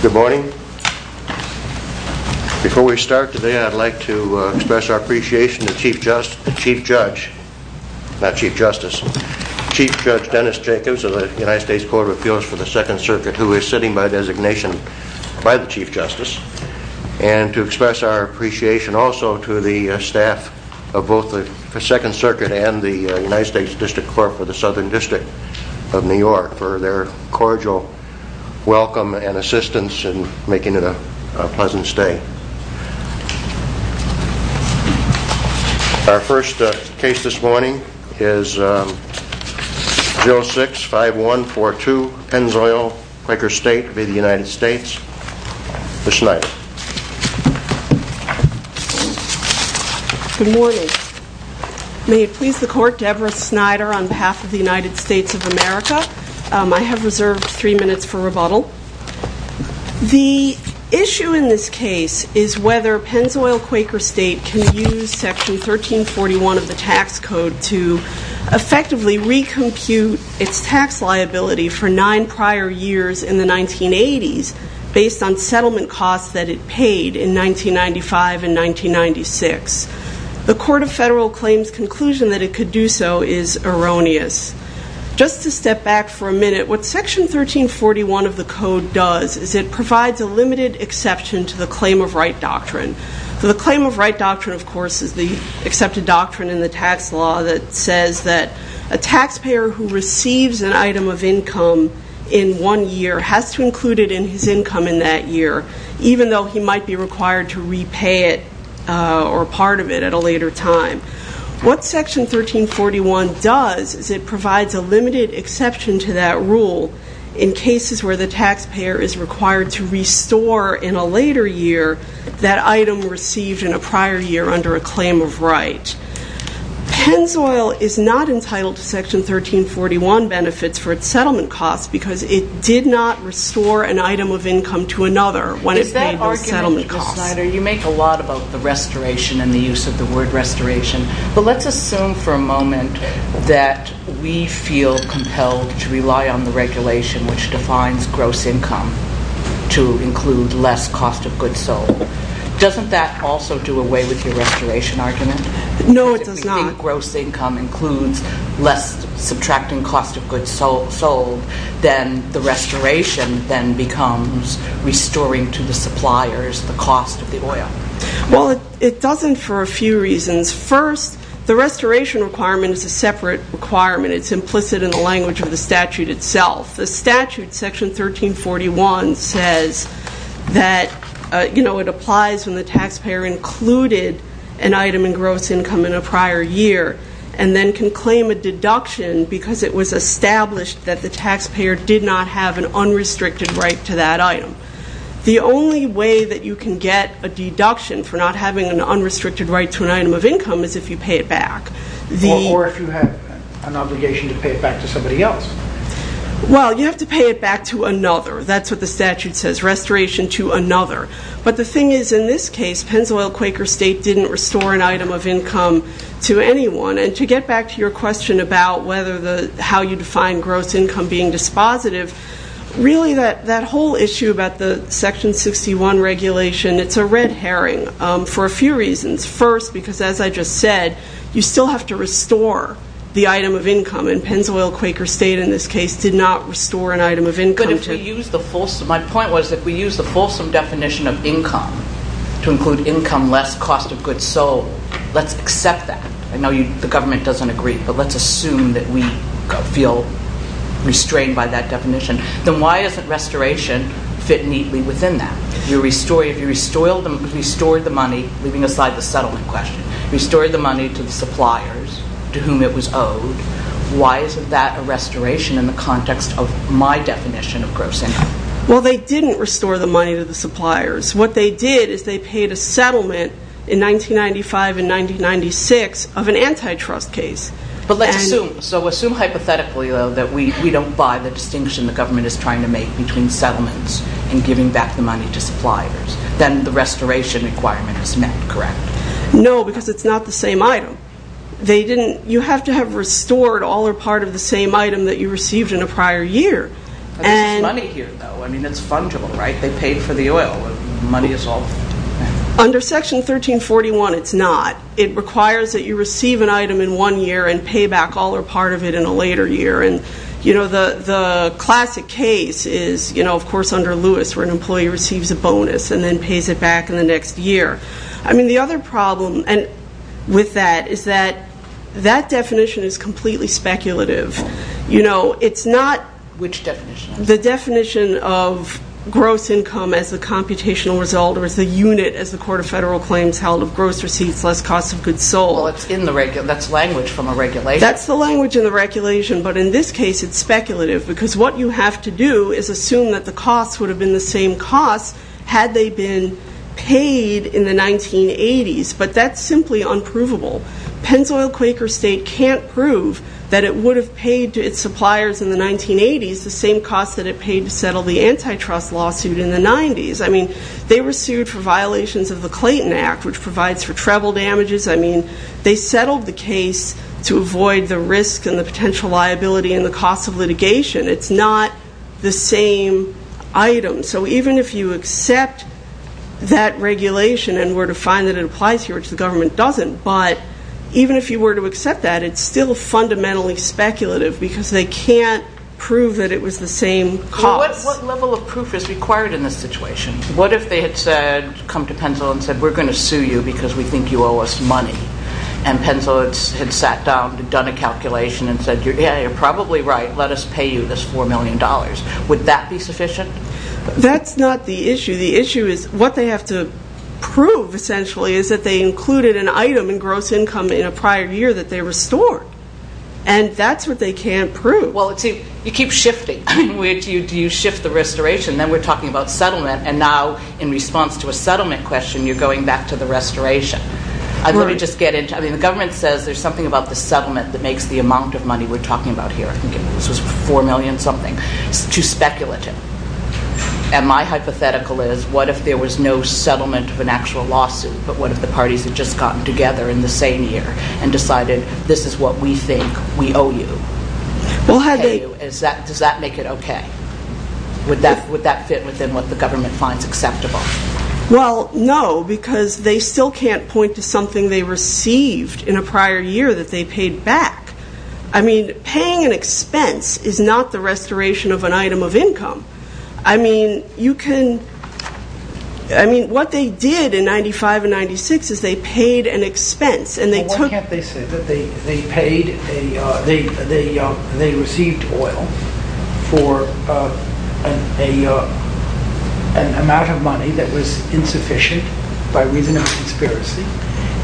Good morning. Before we start today, I'd like to express our appreciation to Chief Judge, not Chief Justice, Chief Judge Dennis Jacobs of the United States Court of Appeals for the Second Circuit, who is sitting by designation by the Chief Justice, and to express our appreciation also to the staff of both the Second Circuit and the United States District Court for the Southern District of New York for their cooperation. Our first case this morning is 06-5142 Pennzoil-Quaker State v. United States. Ms. Snyder. Good morning. May it please the Court, Deborah Snyder on behalf of the United States of America. I have reserved three minutes for rebuttal. The issue in this case is whether Pennzoil-Quaker State can use Section 1341 of the tax code to effectively recompute its tax liability for nine prior years in the 1980s based on settlement costs that it paid in 1995 and 1996. The Court of Federal Claims' conclusion that it could do so is erroneous. Just to step back for a minute, what Section 1341 of the code does is it provides a limited exception to the claim of right doctrine. The claim of right doctrine, of course, is the accepted doctrine in the tax law that says that a taxpayer who receives an item of income in one year has to include it in his income in that year, even though he might be required to repay it or part of it at a later time. What Section 1341 does is it provides a limited exception to that rule in cases where the taxpayer is required to restore in a later year that item received in a prior year under a claim of right. Pennzoil is not entitled to Section 1341 benefits for its settlement costs because it did not restore an item of income to another when it paid those settlement costs. Ms. Snyder, you make a lot about the restoration and the use of the word restoration, but let's assume for a moment that we feel compelled to rely on the regulation which defines gross income to include less cost of goods sold. Doesn't that also do away with your restoration argument? No, it does not. and then can claim a deduction because it was established that the taxpayer did not have an unrestricted right to that item. The only way that you can get a deduction for not having an unrestricted right to an item of income is if you pay it back. Or if you have an obligation to pay it back to somebody else. Well, you have to pay it back to another. That's what the statute says, restoration to another. But the thing is in this case, Pennzoil-Quaker State didn't restore an item of income to anyone. And to get back to your question about how you define gross income being dispositive, really that whole issue about the Section 61 regulation, it's a red herring for a few reasons. First, because as I just said, you still have to restore the item of income and Pennzoil-Quaker State in this case did not restore an item of income. My point was if we use the fulsome definition of income to include income less, cost of goods sold, let's accept that. I know the government doesn't agree, but let's assume that we feel restrained by that definition. Then why isn't restoration fit neatly within that? If you restored the money, leaving aside the settlement question, restored the money to the suppliers to whom it was owed, why isn't that a restoration in the context of my definition of gross income? Well, they didn't restore the money to the suppliers. What they did is they paid a settlement in 1995 and 1996 of an antitrust case. But let's assume. So assume hypothetically, though, that we don't buy the distinction the government is trying to make between settlements and giving back the money to suppliers. Then the restoration requirement is met, correct? No, because it's not the same item. You have to have restored all or part of the same item that you received in a prior year. But there's money here, though. I mean, it's fungible, right? They paid for the oil. Money is all there. Under Section 1341, it's not. It requires that you receive an item in one year and pay back all or part of it in a later year. The classic case is, of course, under Lewis, where an employee receives a bonus and then pays it back in the next year. I mean, the other problem with that is that that definition is completely speculative. Which definition? The definition of gross income as a computational result or as a unit as the Court of Federal Claims held of gross receipts less cost of goods sold. Well, that's language from a regulation. That's the language in the regulation, but in this case it's speculative because what you have to do is assume that the costs would have been the same costs had they been paid in the 1980s. But that's simply unprovable. Pennzoil-Quaker State can't prove that it would have paid to its suppliers in the 1980s the same costs that it paid to settle the antitrust lawsuit in the 90s. I mean, they were sued for violations of the Clayton Act, which provides for treble damages. I mean, they settled the case to avoid the risk and the potential liability and the cost of litigation. It's not the same item. So even if you accept that regulation and were to find that it applies here, which the government doesn't, but even if you were to accept that, it's still fundamentally speculative because they can't prove that it was the same cost. What level of proof is required in this situation? What if they had said, come to Pennzoil and said, we're going to sue you because we think you owe us money. And Pennzoil had sat down and done a calculation and said, yeah, you're probably right. Let us pay you this $4 million. Would that be sufficient? That's not the issue. The issue is what they have to prove, essentially, is that they included an item in gross income in a prior year that they restored. And that's what they can't prove. Well, see, you keep shifting. I mean, do you shift the restoration? Then we're talking about settlement, and now in response to a settlement question, you're going back to the restoration. Let me just get into it. I mean, the government says there's something about the settlement that makes the amount of money we're talking about here, I think this was $4 million something, too speculative. And my hypothetical is, what if there was no settlement of an actual lawsuit, but what if the parties had just gotten together in the same year and decided this is what we think we owe you? Does that make it okay? Would that fit within what the government finds acceptable? Well, no, because they still can't point to something they received in a prior year that they paid back. I mean, paying an expense is not the restoration of an item of income. I mean, what they did in 95 and 96 is they paid an expense. Well, why can't they say that they received oil for an amount of money that was insufficient by reason of conspiracy,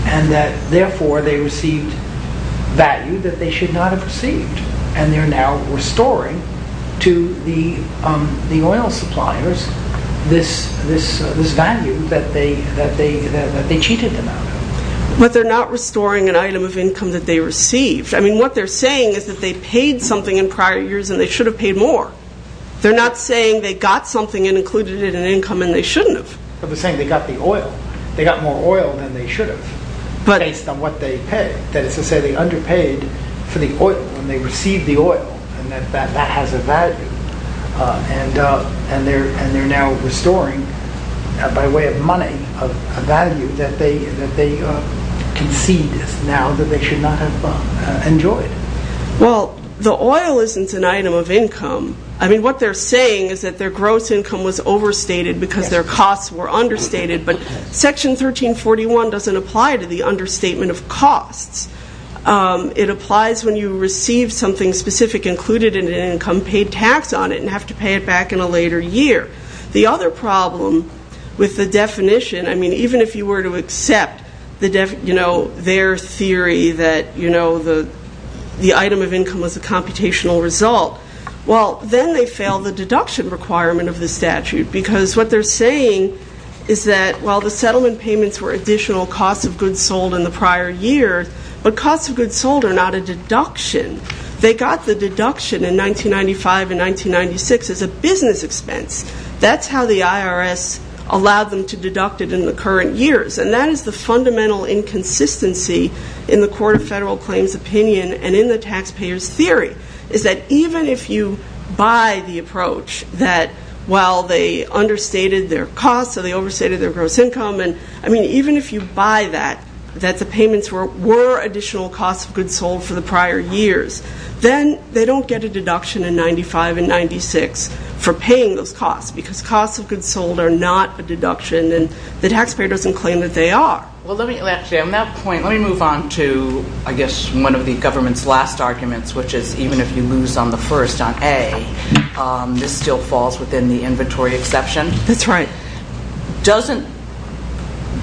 and that therefore they received value that they should not have received, and they're now restoring to the oil suppliers this value that they cheated them out of? But they're not restoring an item of income that they received. I mean, what they're saying is that they paid something in prior years and they should have paid more. They're not saying they got something and included it in income and they shouldn't have. But they're saying they got the oil. They got more oil than they should have, based on what they paid. That is to say they underpaid for the oil, and they received the oil, and that that has a value, and they're now restoring, by way of money, a value that they conceived now that they should not have enjoyed. Well, the oil isn't an item of income. I mean, what they're saying is that their gross income was overstated because their costs were understated, but Section 1341 doesn't apply to the understatement of costs. It applies when you receive something specific, included in an income, paid tax on it and have to pay it back in a later year. The other problem with the definition, I mean, even if you were to accept their theory that the item of income was a computational result, well, then they fail the deduction requirement of the statute because what they're saying is that while the settlement payments were additional costs of goods sold in the prior year, but costs of goods sold are not a deduction. They got the deduction in 1995 and 1996 as a business expense. That's how the IRS allowed them to deduct it in the current years, and that is the fundamental inconsistency in the Court of Federal Claims opinion and in the taxpayers' theory is that even if you buy the approach that, well, they understated their costs or they overstated their gross income, and, I mean, even if you buy that, that the payments were additional costs of goods sold for the prior years, then they don't get a deduction in 1995 and 1996 for paying those costs because costs of goods sold are not a deduction, and the taxpayer doesn't claim that they are. Well, let me, actually, on that point, let me move on to, I guess, one of the government's last arguments, which is even if you lose on the first on A, this still falls within the inventory exception. That's right. Doesn't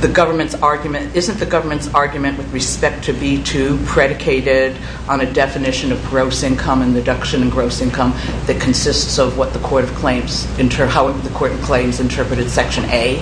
the government's argument, isn't the government's argument with respect to B2 predicated on a definition of gross income and deduction in gross income that consists of what the Court of Claims, how the Court of Claims interpreted Section A?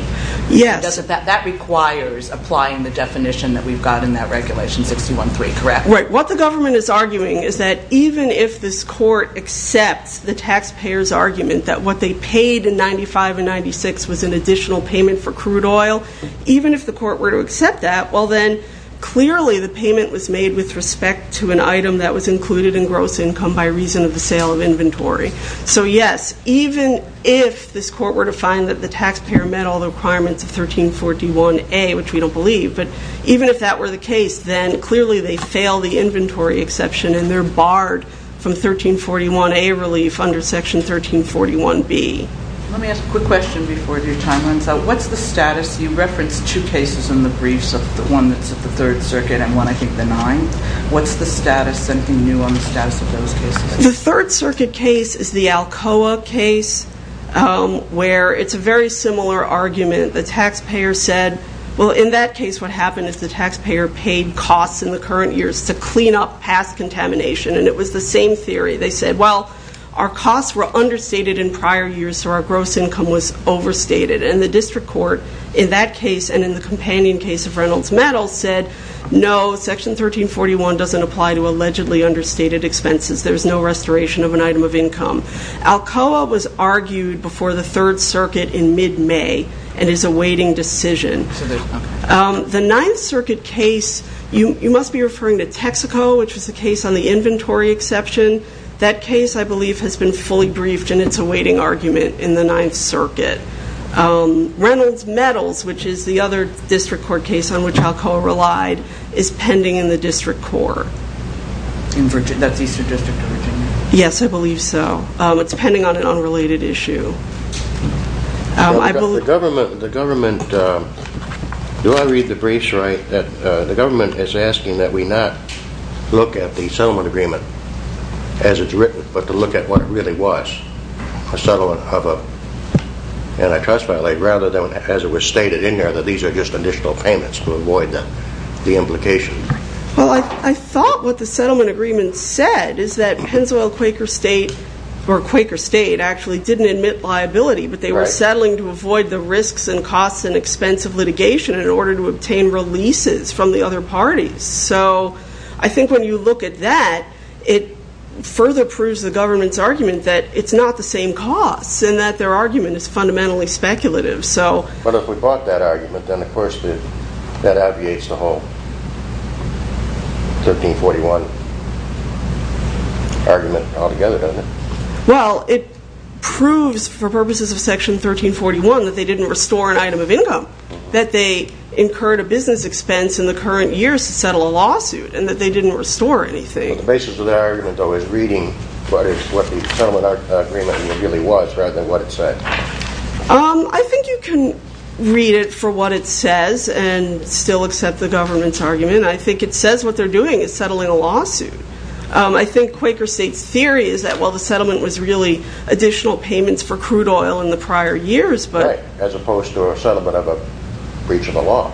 Yes. Because that requires applying the definition that we've got in that Regulation 613, correct? Right. What the government is arguing is that even if this court accepts the taxpayers' argument that what they paid in 1995 and 1996 was an additional payment for crude oil, even if the court were to accept that, well, then, clearly, the payment was made with respect to an item that was included in gross income by reason of the sale of inventory. So, yes, even if this court were to find that the taxpayer met all the requirements of 1341A, which we don't believe, but even if that were the case, then, clearly, they fail the inventory exception and they're barred from 1341A relief under Section 1341B. Let me ask a quick question before your time runs out. What's the status? You referenced two cases in the briefs, one that's at the Third Circuit and one, I think, the Ninth. What's the status? Anything new on the status of those cases? The Third Circuit case is the Alcoa case where it's a very similar argument. The taxpayer said, well, in that case, what happened is the taxpayer paid costs in the current years to clean up past contamination, and it was the same theory. They said, well, our costs were understated in prior years, so our gross income was overstated. And the district court, in that case and in the companion case of Reynolds-Meadows, said, no, Section 1341 doesn't apply to allegedly understated expenses. There's no restoration of an item of income. Alcoa was argued before the Third Circuit in mid-May and is a waiting decision. The Ninth Circuit case, you must be referring to Texaco, which was the case on the inventory exception. That case, I believe, has been fully briefed and it's a waiting argument in the Ninth Circuit. Reynolds-Meadows, which is the other district court case on which Alcoa relied, is pending in the district court. That's Eastern District of Virginia. Yes, I believe so. It's pending on an unrelated issue. The government, do I read the briefs right? The government is asking that we not look at the settlement agreement as it's written, but to look at what it really was, a settlement of an antitrust violation, rather than, as it was stated in there, that these are just additional payments to avoid the implication. Well, I thought what the settlement agreement said is that Pennzoil-Quaker State, or Quaker State actually, didn't admit liability, but they were settling to avoid the risks and costs and expense of litigation in order to obtain releases from the other parties. So I think when you look at that, it further proves the government's argument that it's not the same costs and that their argument is fundamentally speculative. But if we brought that argument, then, of course, that aviates the whole 1341 argument altogether, doesn't it? Well, it proves, for purposes of Section 1341, that they didn't restore an item of income, that they incurred a business expense in the current years to settle a lawsuit, and that they didn't restore anything. But the basis of their argument, though, is reading what the settlement agreement really was, rather than what it said. I think you can read it for what it says and still accept the government's argument. I think it says what they're doing is settling a lawsuit. I think Quaker State's theory is that, well, the settlement was really additional payments for crude oil in the prior years. Right, as opposed to a settlement of a breach of the law.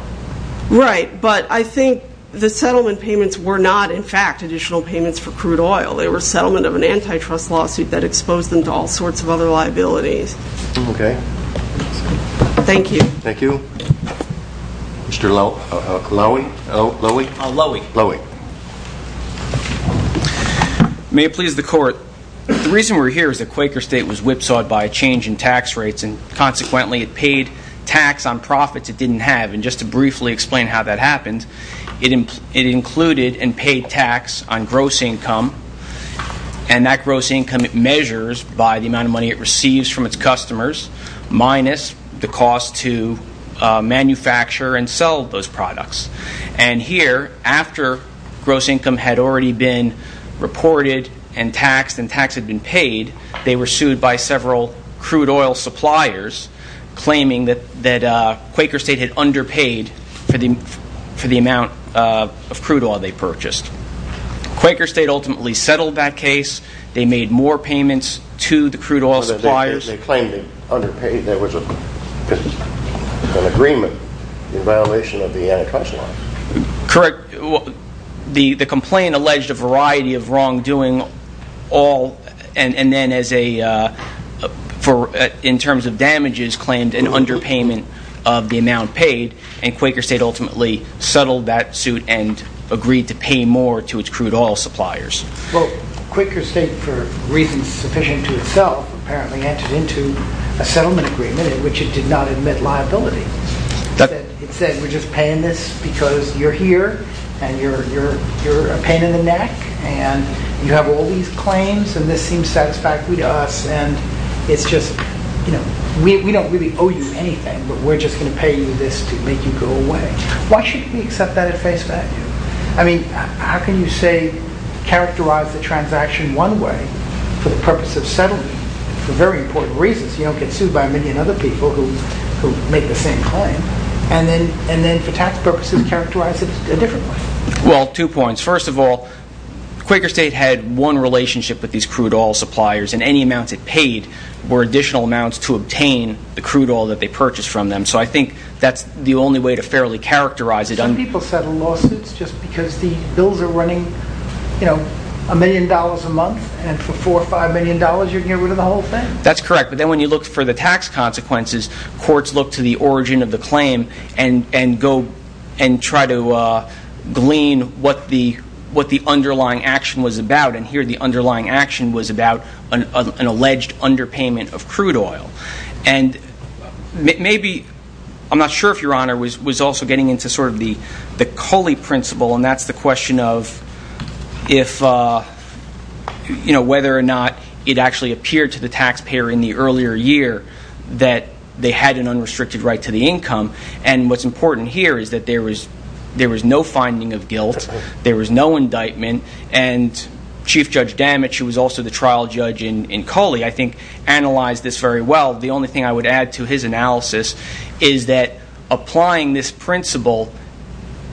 Right, but I think the settlement payments were not, in fact, additional payments for crude oil. They were settlement of an antitrust lawsuit that exposed them to all sorts of other liabilities. Okay. Thank you. Thank you. Mr. Lowy? Lowy. Lowy. May it please the Court, the reason we're here is that Quaker State was whipsawed by a change in tax rates and, consequently, it paid tax on profits it didn't have. And just to briefly explain how that happened, it included and paid tax on gross income, and that gross income it measures by the amount of money it receives from its customers, minus the cost to manufacture and sell those products. And here, after gross income had already been reported and taxed and tax had been paid, they were sued by several crude oil suppliers claiming that Quaker State had underpaid for the amount of crude oil they purchased. Quaker State ultimately settled that case. They made more payments to the crude oil suppliers. They claimed they underpaid. There was an agreement in violation of the antitrust law. Correct. The complaint alleged a variety of wrongdoing, and then, in terms of damages, claimed an underpayment of the amount paid, and Quaker State ultimately settled that suit and agreed to pay more to its crude oil suppliers. Well, Quaker State, for reasons sufficient to itself, apparently entered into a settlement agreement in which it did not admit liability. It said, we're just paying this because you're here, and you're a pain in the neck, and you have all these claims, and this seems satisfactory to us, and it's just, you know, we don't really owe you anything, but we're just going to pay you this to make you go away. Why shouldn't we accept that at face value? I mean, how can you say, characterize the transaction one way for the purpose of settling for very important reasons, you don't get sued by a million other people who make the same claim, and then, for tax purposes, characterize it a different way? Well, two points. First of all, Quaker State had one relationship with these crude oil suppliers, and any amounts it paid were additional amounts to obtain the crude oil that they purchased from them, so I think that's the only way to fairly characterize it. Some people settle lawsuits just because the bills are running, you know, a million dollars a month, and for four or five million dollars you can get rid of the whole thing? That's correct, but then when you look for the tax consequences, courts look to the origin of the claim and try to glean what the underlying action was about, and here the underlying action was about an alleged underpayment of crude oil. And maybe, I'm not sure if Your Honor, was also getting into sort of the Culley principle, and that's the question of whether or not it actually appeared to the taxpayer in the earlier year that they had an unrestricted right to the income, and what's important here is that there was no finding of guilt, there was no indictment, and Chief Judge Damage, who was also the trial judge in Culley, I think, analyzed this very well. The only thing I would add to his analysis is that applying this principle,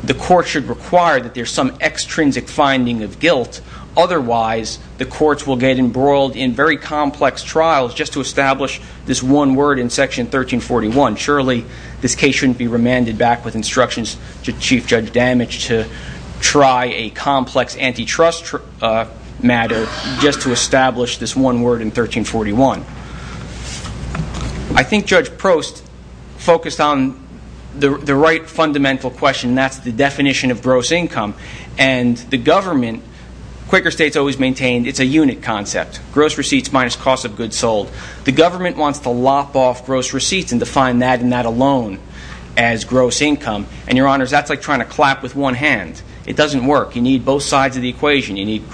the court should require that there's some extrinsic finding of guilt, otherwise the courts will get embroiled in very complex trials just to establish this one word in Section 1341. Surely this case shouldn't be remanded back with instructions to Chief Judge Damage to try a complex antitrust matter just to establish this one word in 1341. I think Judge Prost focused on the right fundamental question, and that's the definition of gross income, and the government, Quaker states always maintain it's a unit concept, gross receipts minus cost of goods sold. The government wants to lop off gross receipts and define that and that alone as gross income, and Your Honor, that's like trying to clap with one hand. It doesn't work. You need both sides of the equation. You need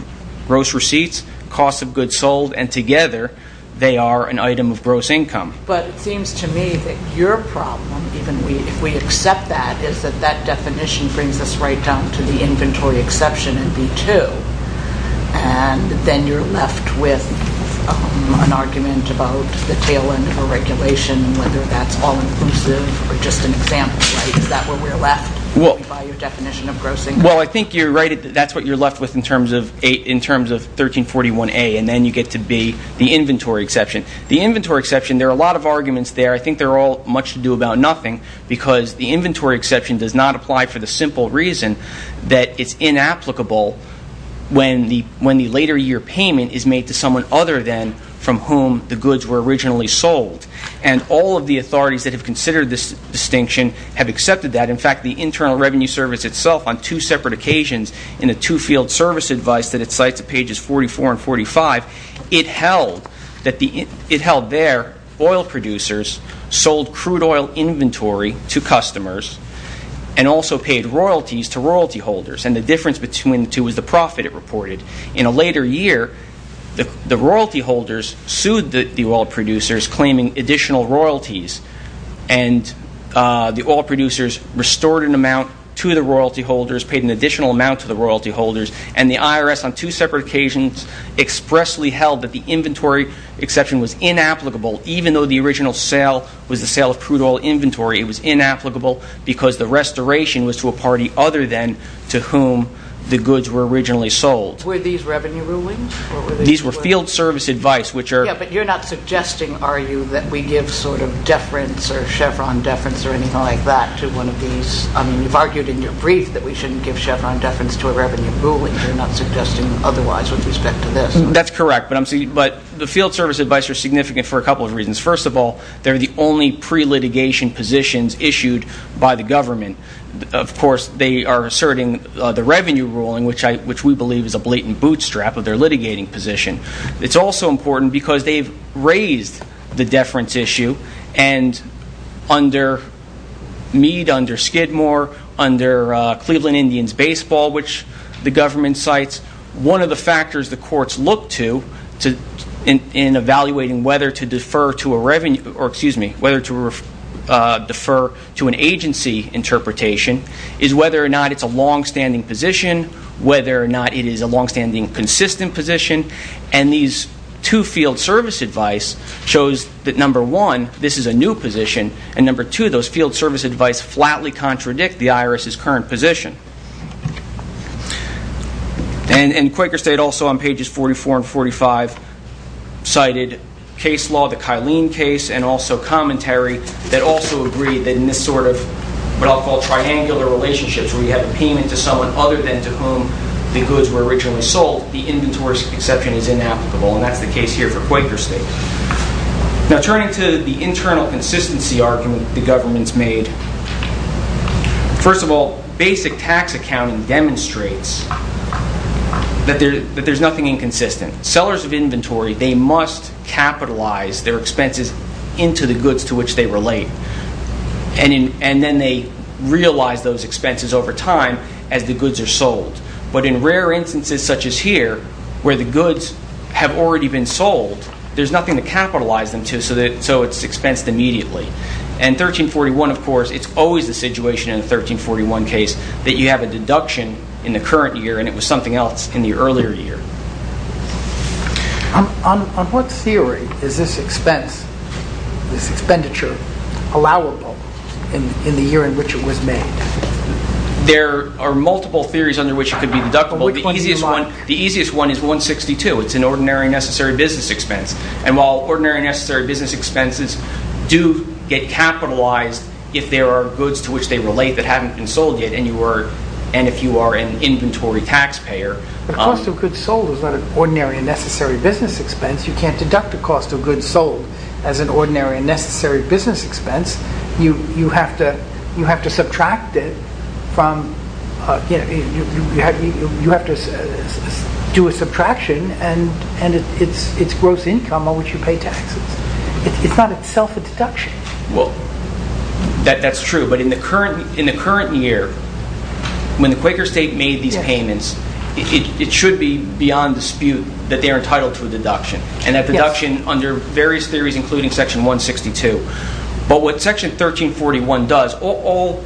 gross receipts, cost of goods sold, and together they are an item of gross income. But it seems to me that your problem, even if we accept that, is that that definition brings us right down to the inventory exception in B2, and then you're left with an argument about the tail end of a regulation and whether that's all inclusive or just an example, right? Is that where we're left by your definition of gross income? Well, I think you're right. That's what you're left with in terms of 1341A, and then you get to B, the inventory exception. The inventory exception, there are a lot of arguments there. I think they're all much to do about nothing, because the inventory exception does not apply for the simple reason that it's inapplicable when the later year payment is made to someone other than from whom the goods were originally sold, and all of the authorities that have considered this distinction have accepted that. In fact, the Internal Revenue Service itself, on two separate occasions, in a two-field service advice that it cites at pages 44 and 45, it held there oil producers sold crude oil inventory to customers and also paid royalties to royalty holders, and the difference between the two was the profit it reported. In a later year, the royalty holders sued the oil producers claiming additional royalties, and the oil producers restored an amount to the royalty holders, paid an additional amount to the royalty holders, and the IRS on two separate occasions expressly held that the inventory exception was inapplicable. Even though the original sale was the sale of crude oil inventory, it was inapplicable because the restoration was to a party other than to whom the goods were originally sold. Were these revenue rulings? These were field service advice. Yes, but you're not suggesting, are you, that we give sort of deference or chevron deference or anything like that to one of these? I mean, you've argued in your brief that we shouldn't give chevron deference to a revenue ruling. You're not suggesting otherwise with respect to this? That's correct, but the field service advice are significant for a couple of reasons. First of all, they're the only pre-litigation positions issued by the government. Of course, they are asserting the revenue ruling, which we believe is a blatant bootstrap of their litigating position. It's also important because they've raised the deference issue, and under Meade, under Skidmore, under Cleveland Indians Baseball, which the government cites, one of the factors the courts look to in evaluating whether to defer to an agency interpretation is whether or not it's a longstanding position, whether or not it is a longstanding consistent position, and these two field service advice shows that, number one, this is a new position, and, number two, those field service advice flatly contradict the IRS's current position. And Quaker State also, on pages 44 and 45, cited case law, the Kylene case, and also commentary that also agreed that in this sort of what I'll call triangular relationships, where you have a payment to someone other than to whom the goods were originally sold, the inventory exception is inapplicable, and that's the case here for Quaker State. Now, turning to the internal consistency argument the government's made, first of all, basic tax accounting demonstrates that there's nothing inconsistent. Sellers of inventory, they must capitalize their expenses into the goods to which they relate, and then they realize those expenses over time as the goods are sold. But in rare instances such as here, where the goods have already been sold, there's nothing to capitalize them to, so it's expensed immediately. And 1341, of course, it's always the situation in a 1341 case that you have a deduction in the current year and it was something else in the earlier year. On what theory is this expense, this expenditure, allowable in the year in which it was made? There are multiple theories under which it could be deductible. The easiest one is 162. It's an ordinary and necessary business expense. And while ordinary and necessary business expenses do get capitalized if there are goods to which they relate that haven't been sold yet, and if you are an inventory taxpayer. The cost of goods sold is not an ordinary and necessary business expense. You can't deduct the cost of goods sold as an ordinary and necessary business expense. You have to do a subtraction and it's gross income on which you pay taxes. It's not itself a deduction. Well, that's true. But in the current year, when the Quaker state made these payments, it should be beyond dispute that they are entitled to a deduction. And that deduction under various theories including section 162. But what section 1341 does, all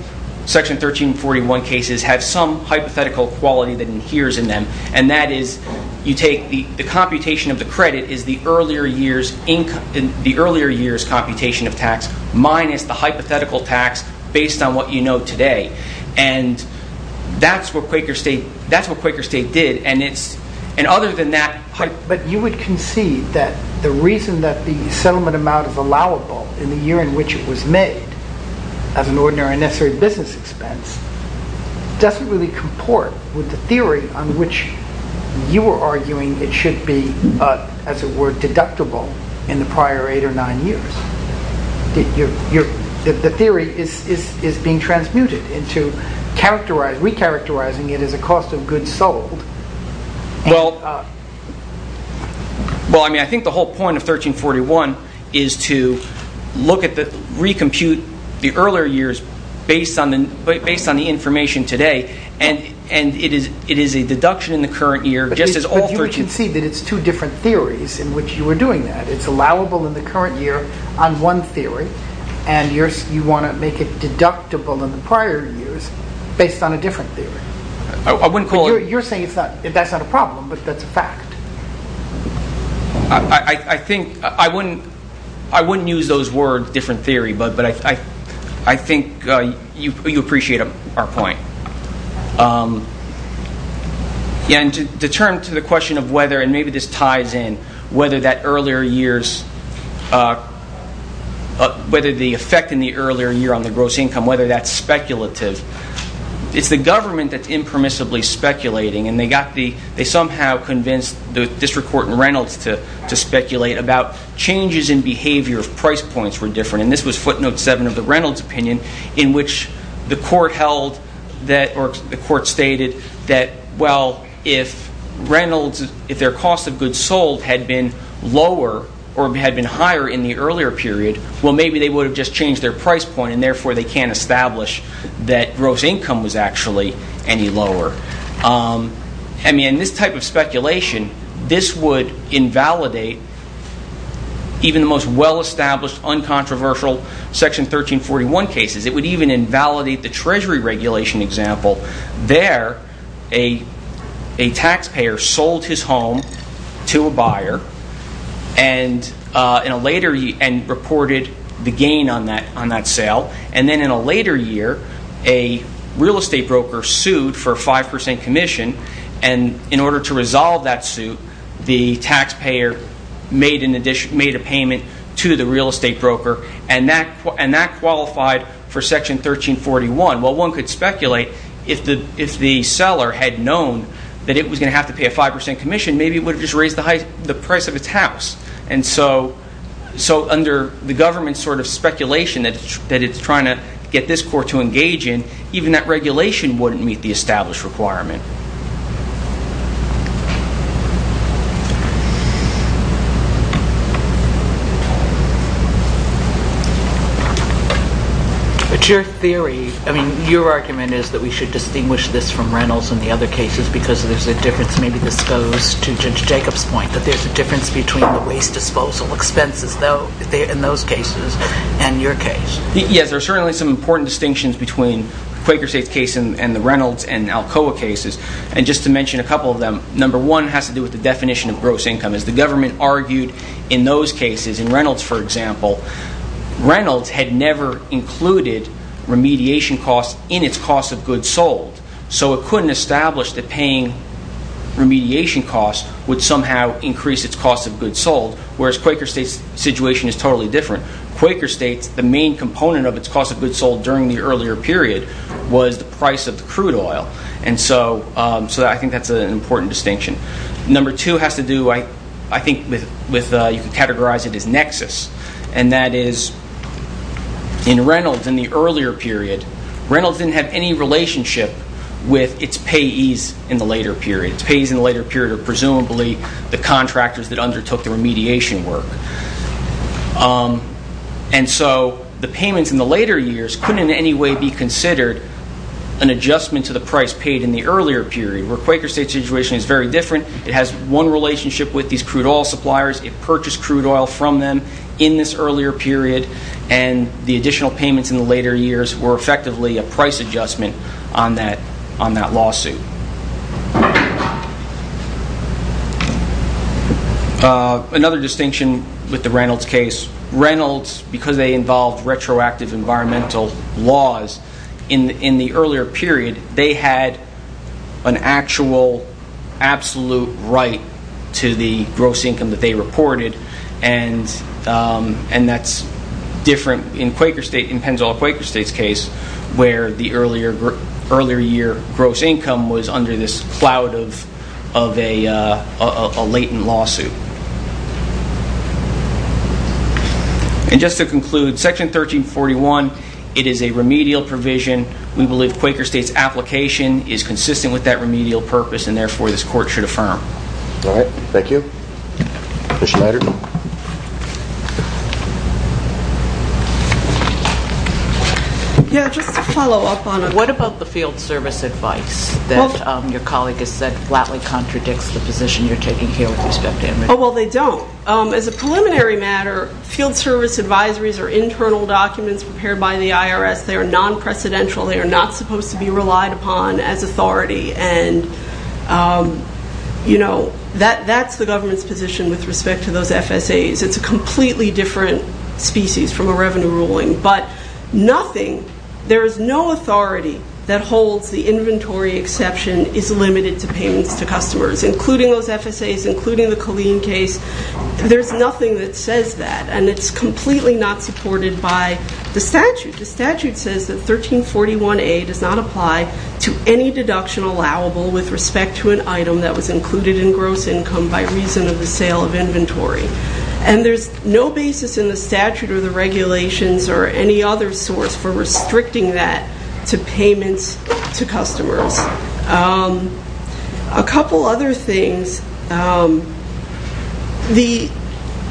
section 1341 cases have some hypothetical quality that adheres in them. And that is you take the computation of the credit is the earlier year's computation of tax minus the hypothetical tax based on what you know today. And that's what Quaker state did. But you would concede that the reason that the settlement amount is allowable in the year in which it was made as an ordinary and necessary business expense doesn't really comport with the theory on which you were arguing it should be, as it were, deductible in the prior eight or nine years. The theory is being transmuted into characterizing, recharacterizing it as a cost of goods sold. Well, I mean, I think the whole point of 1341 is to look at the, recompute the earlier years based on the information today. And it is a deduction in the current year just as all 1341. But you would concede that it's two different theories in which you were doing that. It's allowable in the current year on one theory. And you want to make it deductible in the prior years based on a different theory. You're saying that's not a problem, but that's a fact. I think, I wouldn't use those words, different theory, but I think you appreciate our point. And to turn to the question of whether, and maybe this ties in, whether that earlier years, whether the effect in the earlier year on the gross income, whether that's speculative. It's the government that's impermissibly speculating. And they somehow convinced the district court in Reynolds to speculate about changes in behavior if price points were different. And this was footnote seven of the Reynolds opinion, in which the court held that, or the court stated that, well, if Reynolds, if their cost of goods sold had been lower or had been higher in the earlier period, well, maybe they would have just changed their price point and therefore they can't establish that gross income was actually any lower. I mean, in this type of speculation, this would invalidate even the most well-established, uncontroversial section 1341 cases. It would even invalidate the treasury regulation example. There, a taxpayer sold his home to a buyer and reported the gain on that sale. And then in a later year, a real estate broker sued for a 5% commission. And in order to resolve that suit, the taxpayer made a payment to the real estate broker, and that qualified for section 1341. Well, one could speculate if the seller had known that it was going to have to pay a 5% commission, maybe it would have just raised the price of its house. And so under the government's sort of speculation that it's trying to get this court to engage in, even that regulation wouldn't meet the established requirement. But your theory, I mean, your argument is that we should distinguish this from Reynolds and the other cases because there's a difference, maybe this goes to Judge Jacob's point, that there's a difference between the waste disposal expenses in those cases and your case. Yes, there's certainly some important distinctions between Quaker Estate's case and the Reynolds and Alcoa cases. And just to mention a couple of them, number one has to do with the definition of gross income. As the government argued in those cases, in Reynolds, for example, Reynolds had never included remediation costs in its cost of goods sold, so it couldn't establish that paying remediation costs would somehow increase its cost of goods sold, whereas Quaker Estate's situation is totally different. Quaker Estate, the main component of its cost of goods sold during the earlier period was the price of the crude oil, and so I think that's an important distinction. Number two has to do, I think you can categorize it as nexus, and that is in Reynolds in the earlier period, Reynolds didn't have any relationship with its payees in the later period. Its payees in the later period are presumably the contractors that undertook the remediation work. And so the payments in the later years couldn't in any way be considered an adjustment to the price paid in the earlier period, where Quaker Estate's situation is very different. It has one relationship with these crude oil suppliers. It purchased crude oil from them in this earlier period, and the additional payments in the later years were effectively a price adjustment on that lawsuit. Another distinction with the Reynolds case, Reynolds, because they involved retroactive environmental laws in the earlier period, they had an actual absolute right to the gross income that they reported, and that's different in Pennzoil Quaker Estate's case, where the earlier year gross income was under this cloud of a latent lawsuit. And just to conclude, Section 1341, it is a remedial provision. We believe Quaker Estate's application is consistent with that remedial purpose, and therefore this court should affirm. All right, thank you. Commissioner Leiter. Yeah, just to follow up on it. What about the field service advice that your colleague has said flatly contradicts the position you're taking here with respect to MRT? Oh, well, they don't. As a preliminary matter, field service advisories are internal documents prepared by the IRS. They are non-precedential. They are not supposed to be relied upon as authority, and that's the government's position with respect to those FSAs. It's a completely different species from a revenue ruling, but nothing, there is no authority that holds the inventory exception is limited to payments to customers, including those FSAs, including the Colleen case. There's nothing that says that, and it's completely not supported by the statute. The statute says that 1341A does not apply to any deduction allowable with respect to an item that was included in gross income by reason of the sale of inventory, and there's no basis in the statute or the regulations or any other source for restricting that to payments to customers. A couple other things.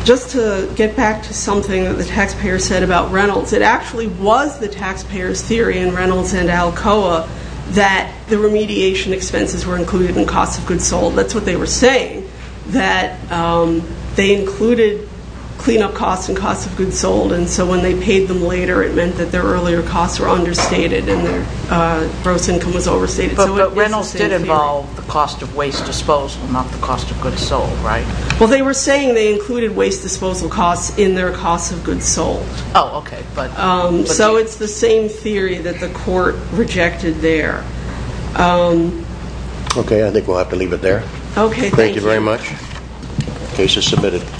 Just to get back to something that the taxpayer said about Reynolds, it actually was the taxpayer's theory in Reynolds and Alcoa that the remediation expenses were included in costs of goods sold. That's what they were saying, that they included cleanup costs and costs of goods sold, and so when they paid them later, it meant that their earlier costs were understated and their gross income was overstated. But Reynolds did involve the cost of waste disposal, not the cost of goods sold, right? Well, they were saying they included waste disposal costs in their costs of goods sold. So it's the same theory that the court rejected there. Okay, I think we'll have to leave it there. Okay, thank you. Thank you very much. Case is submitted.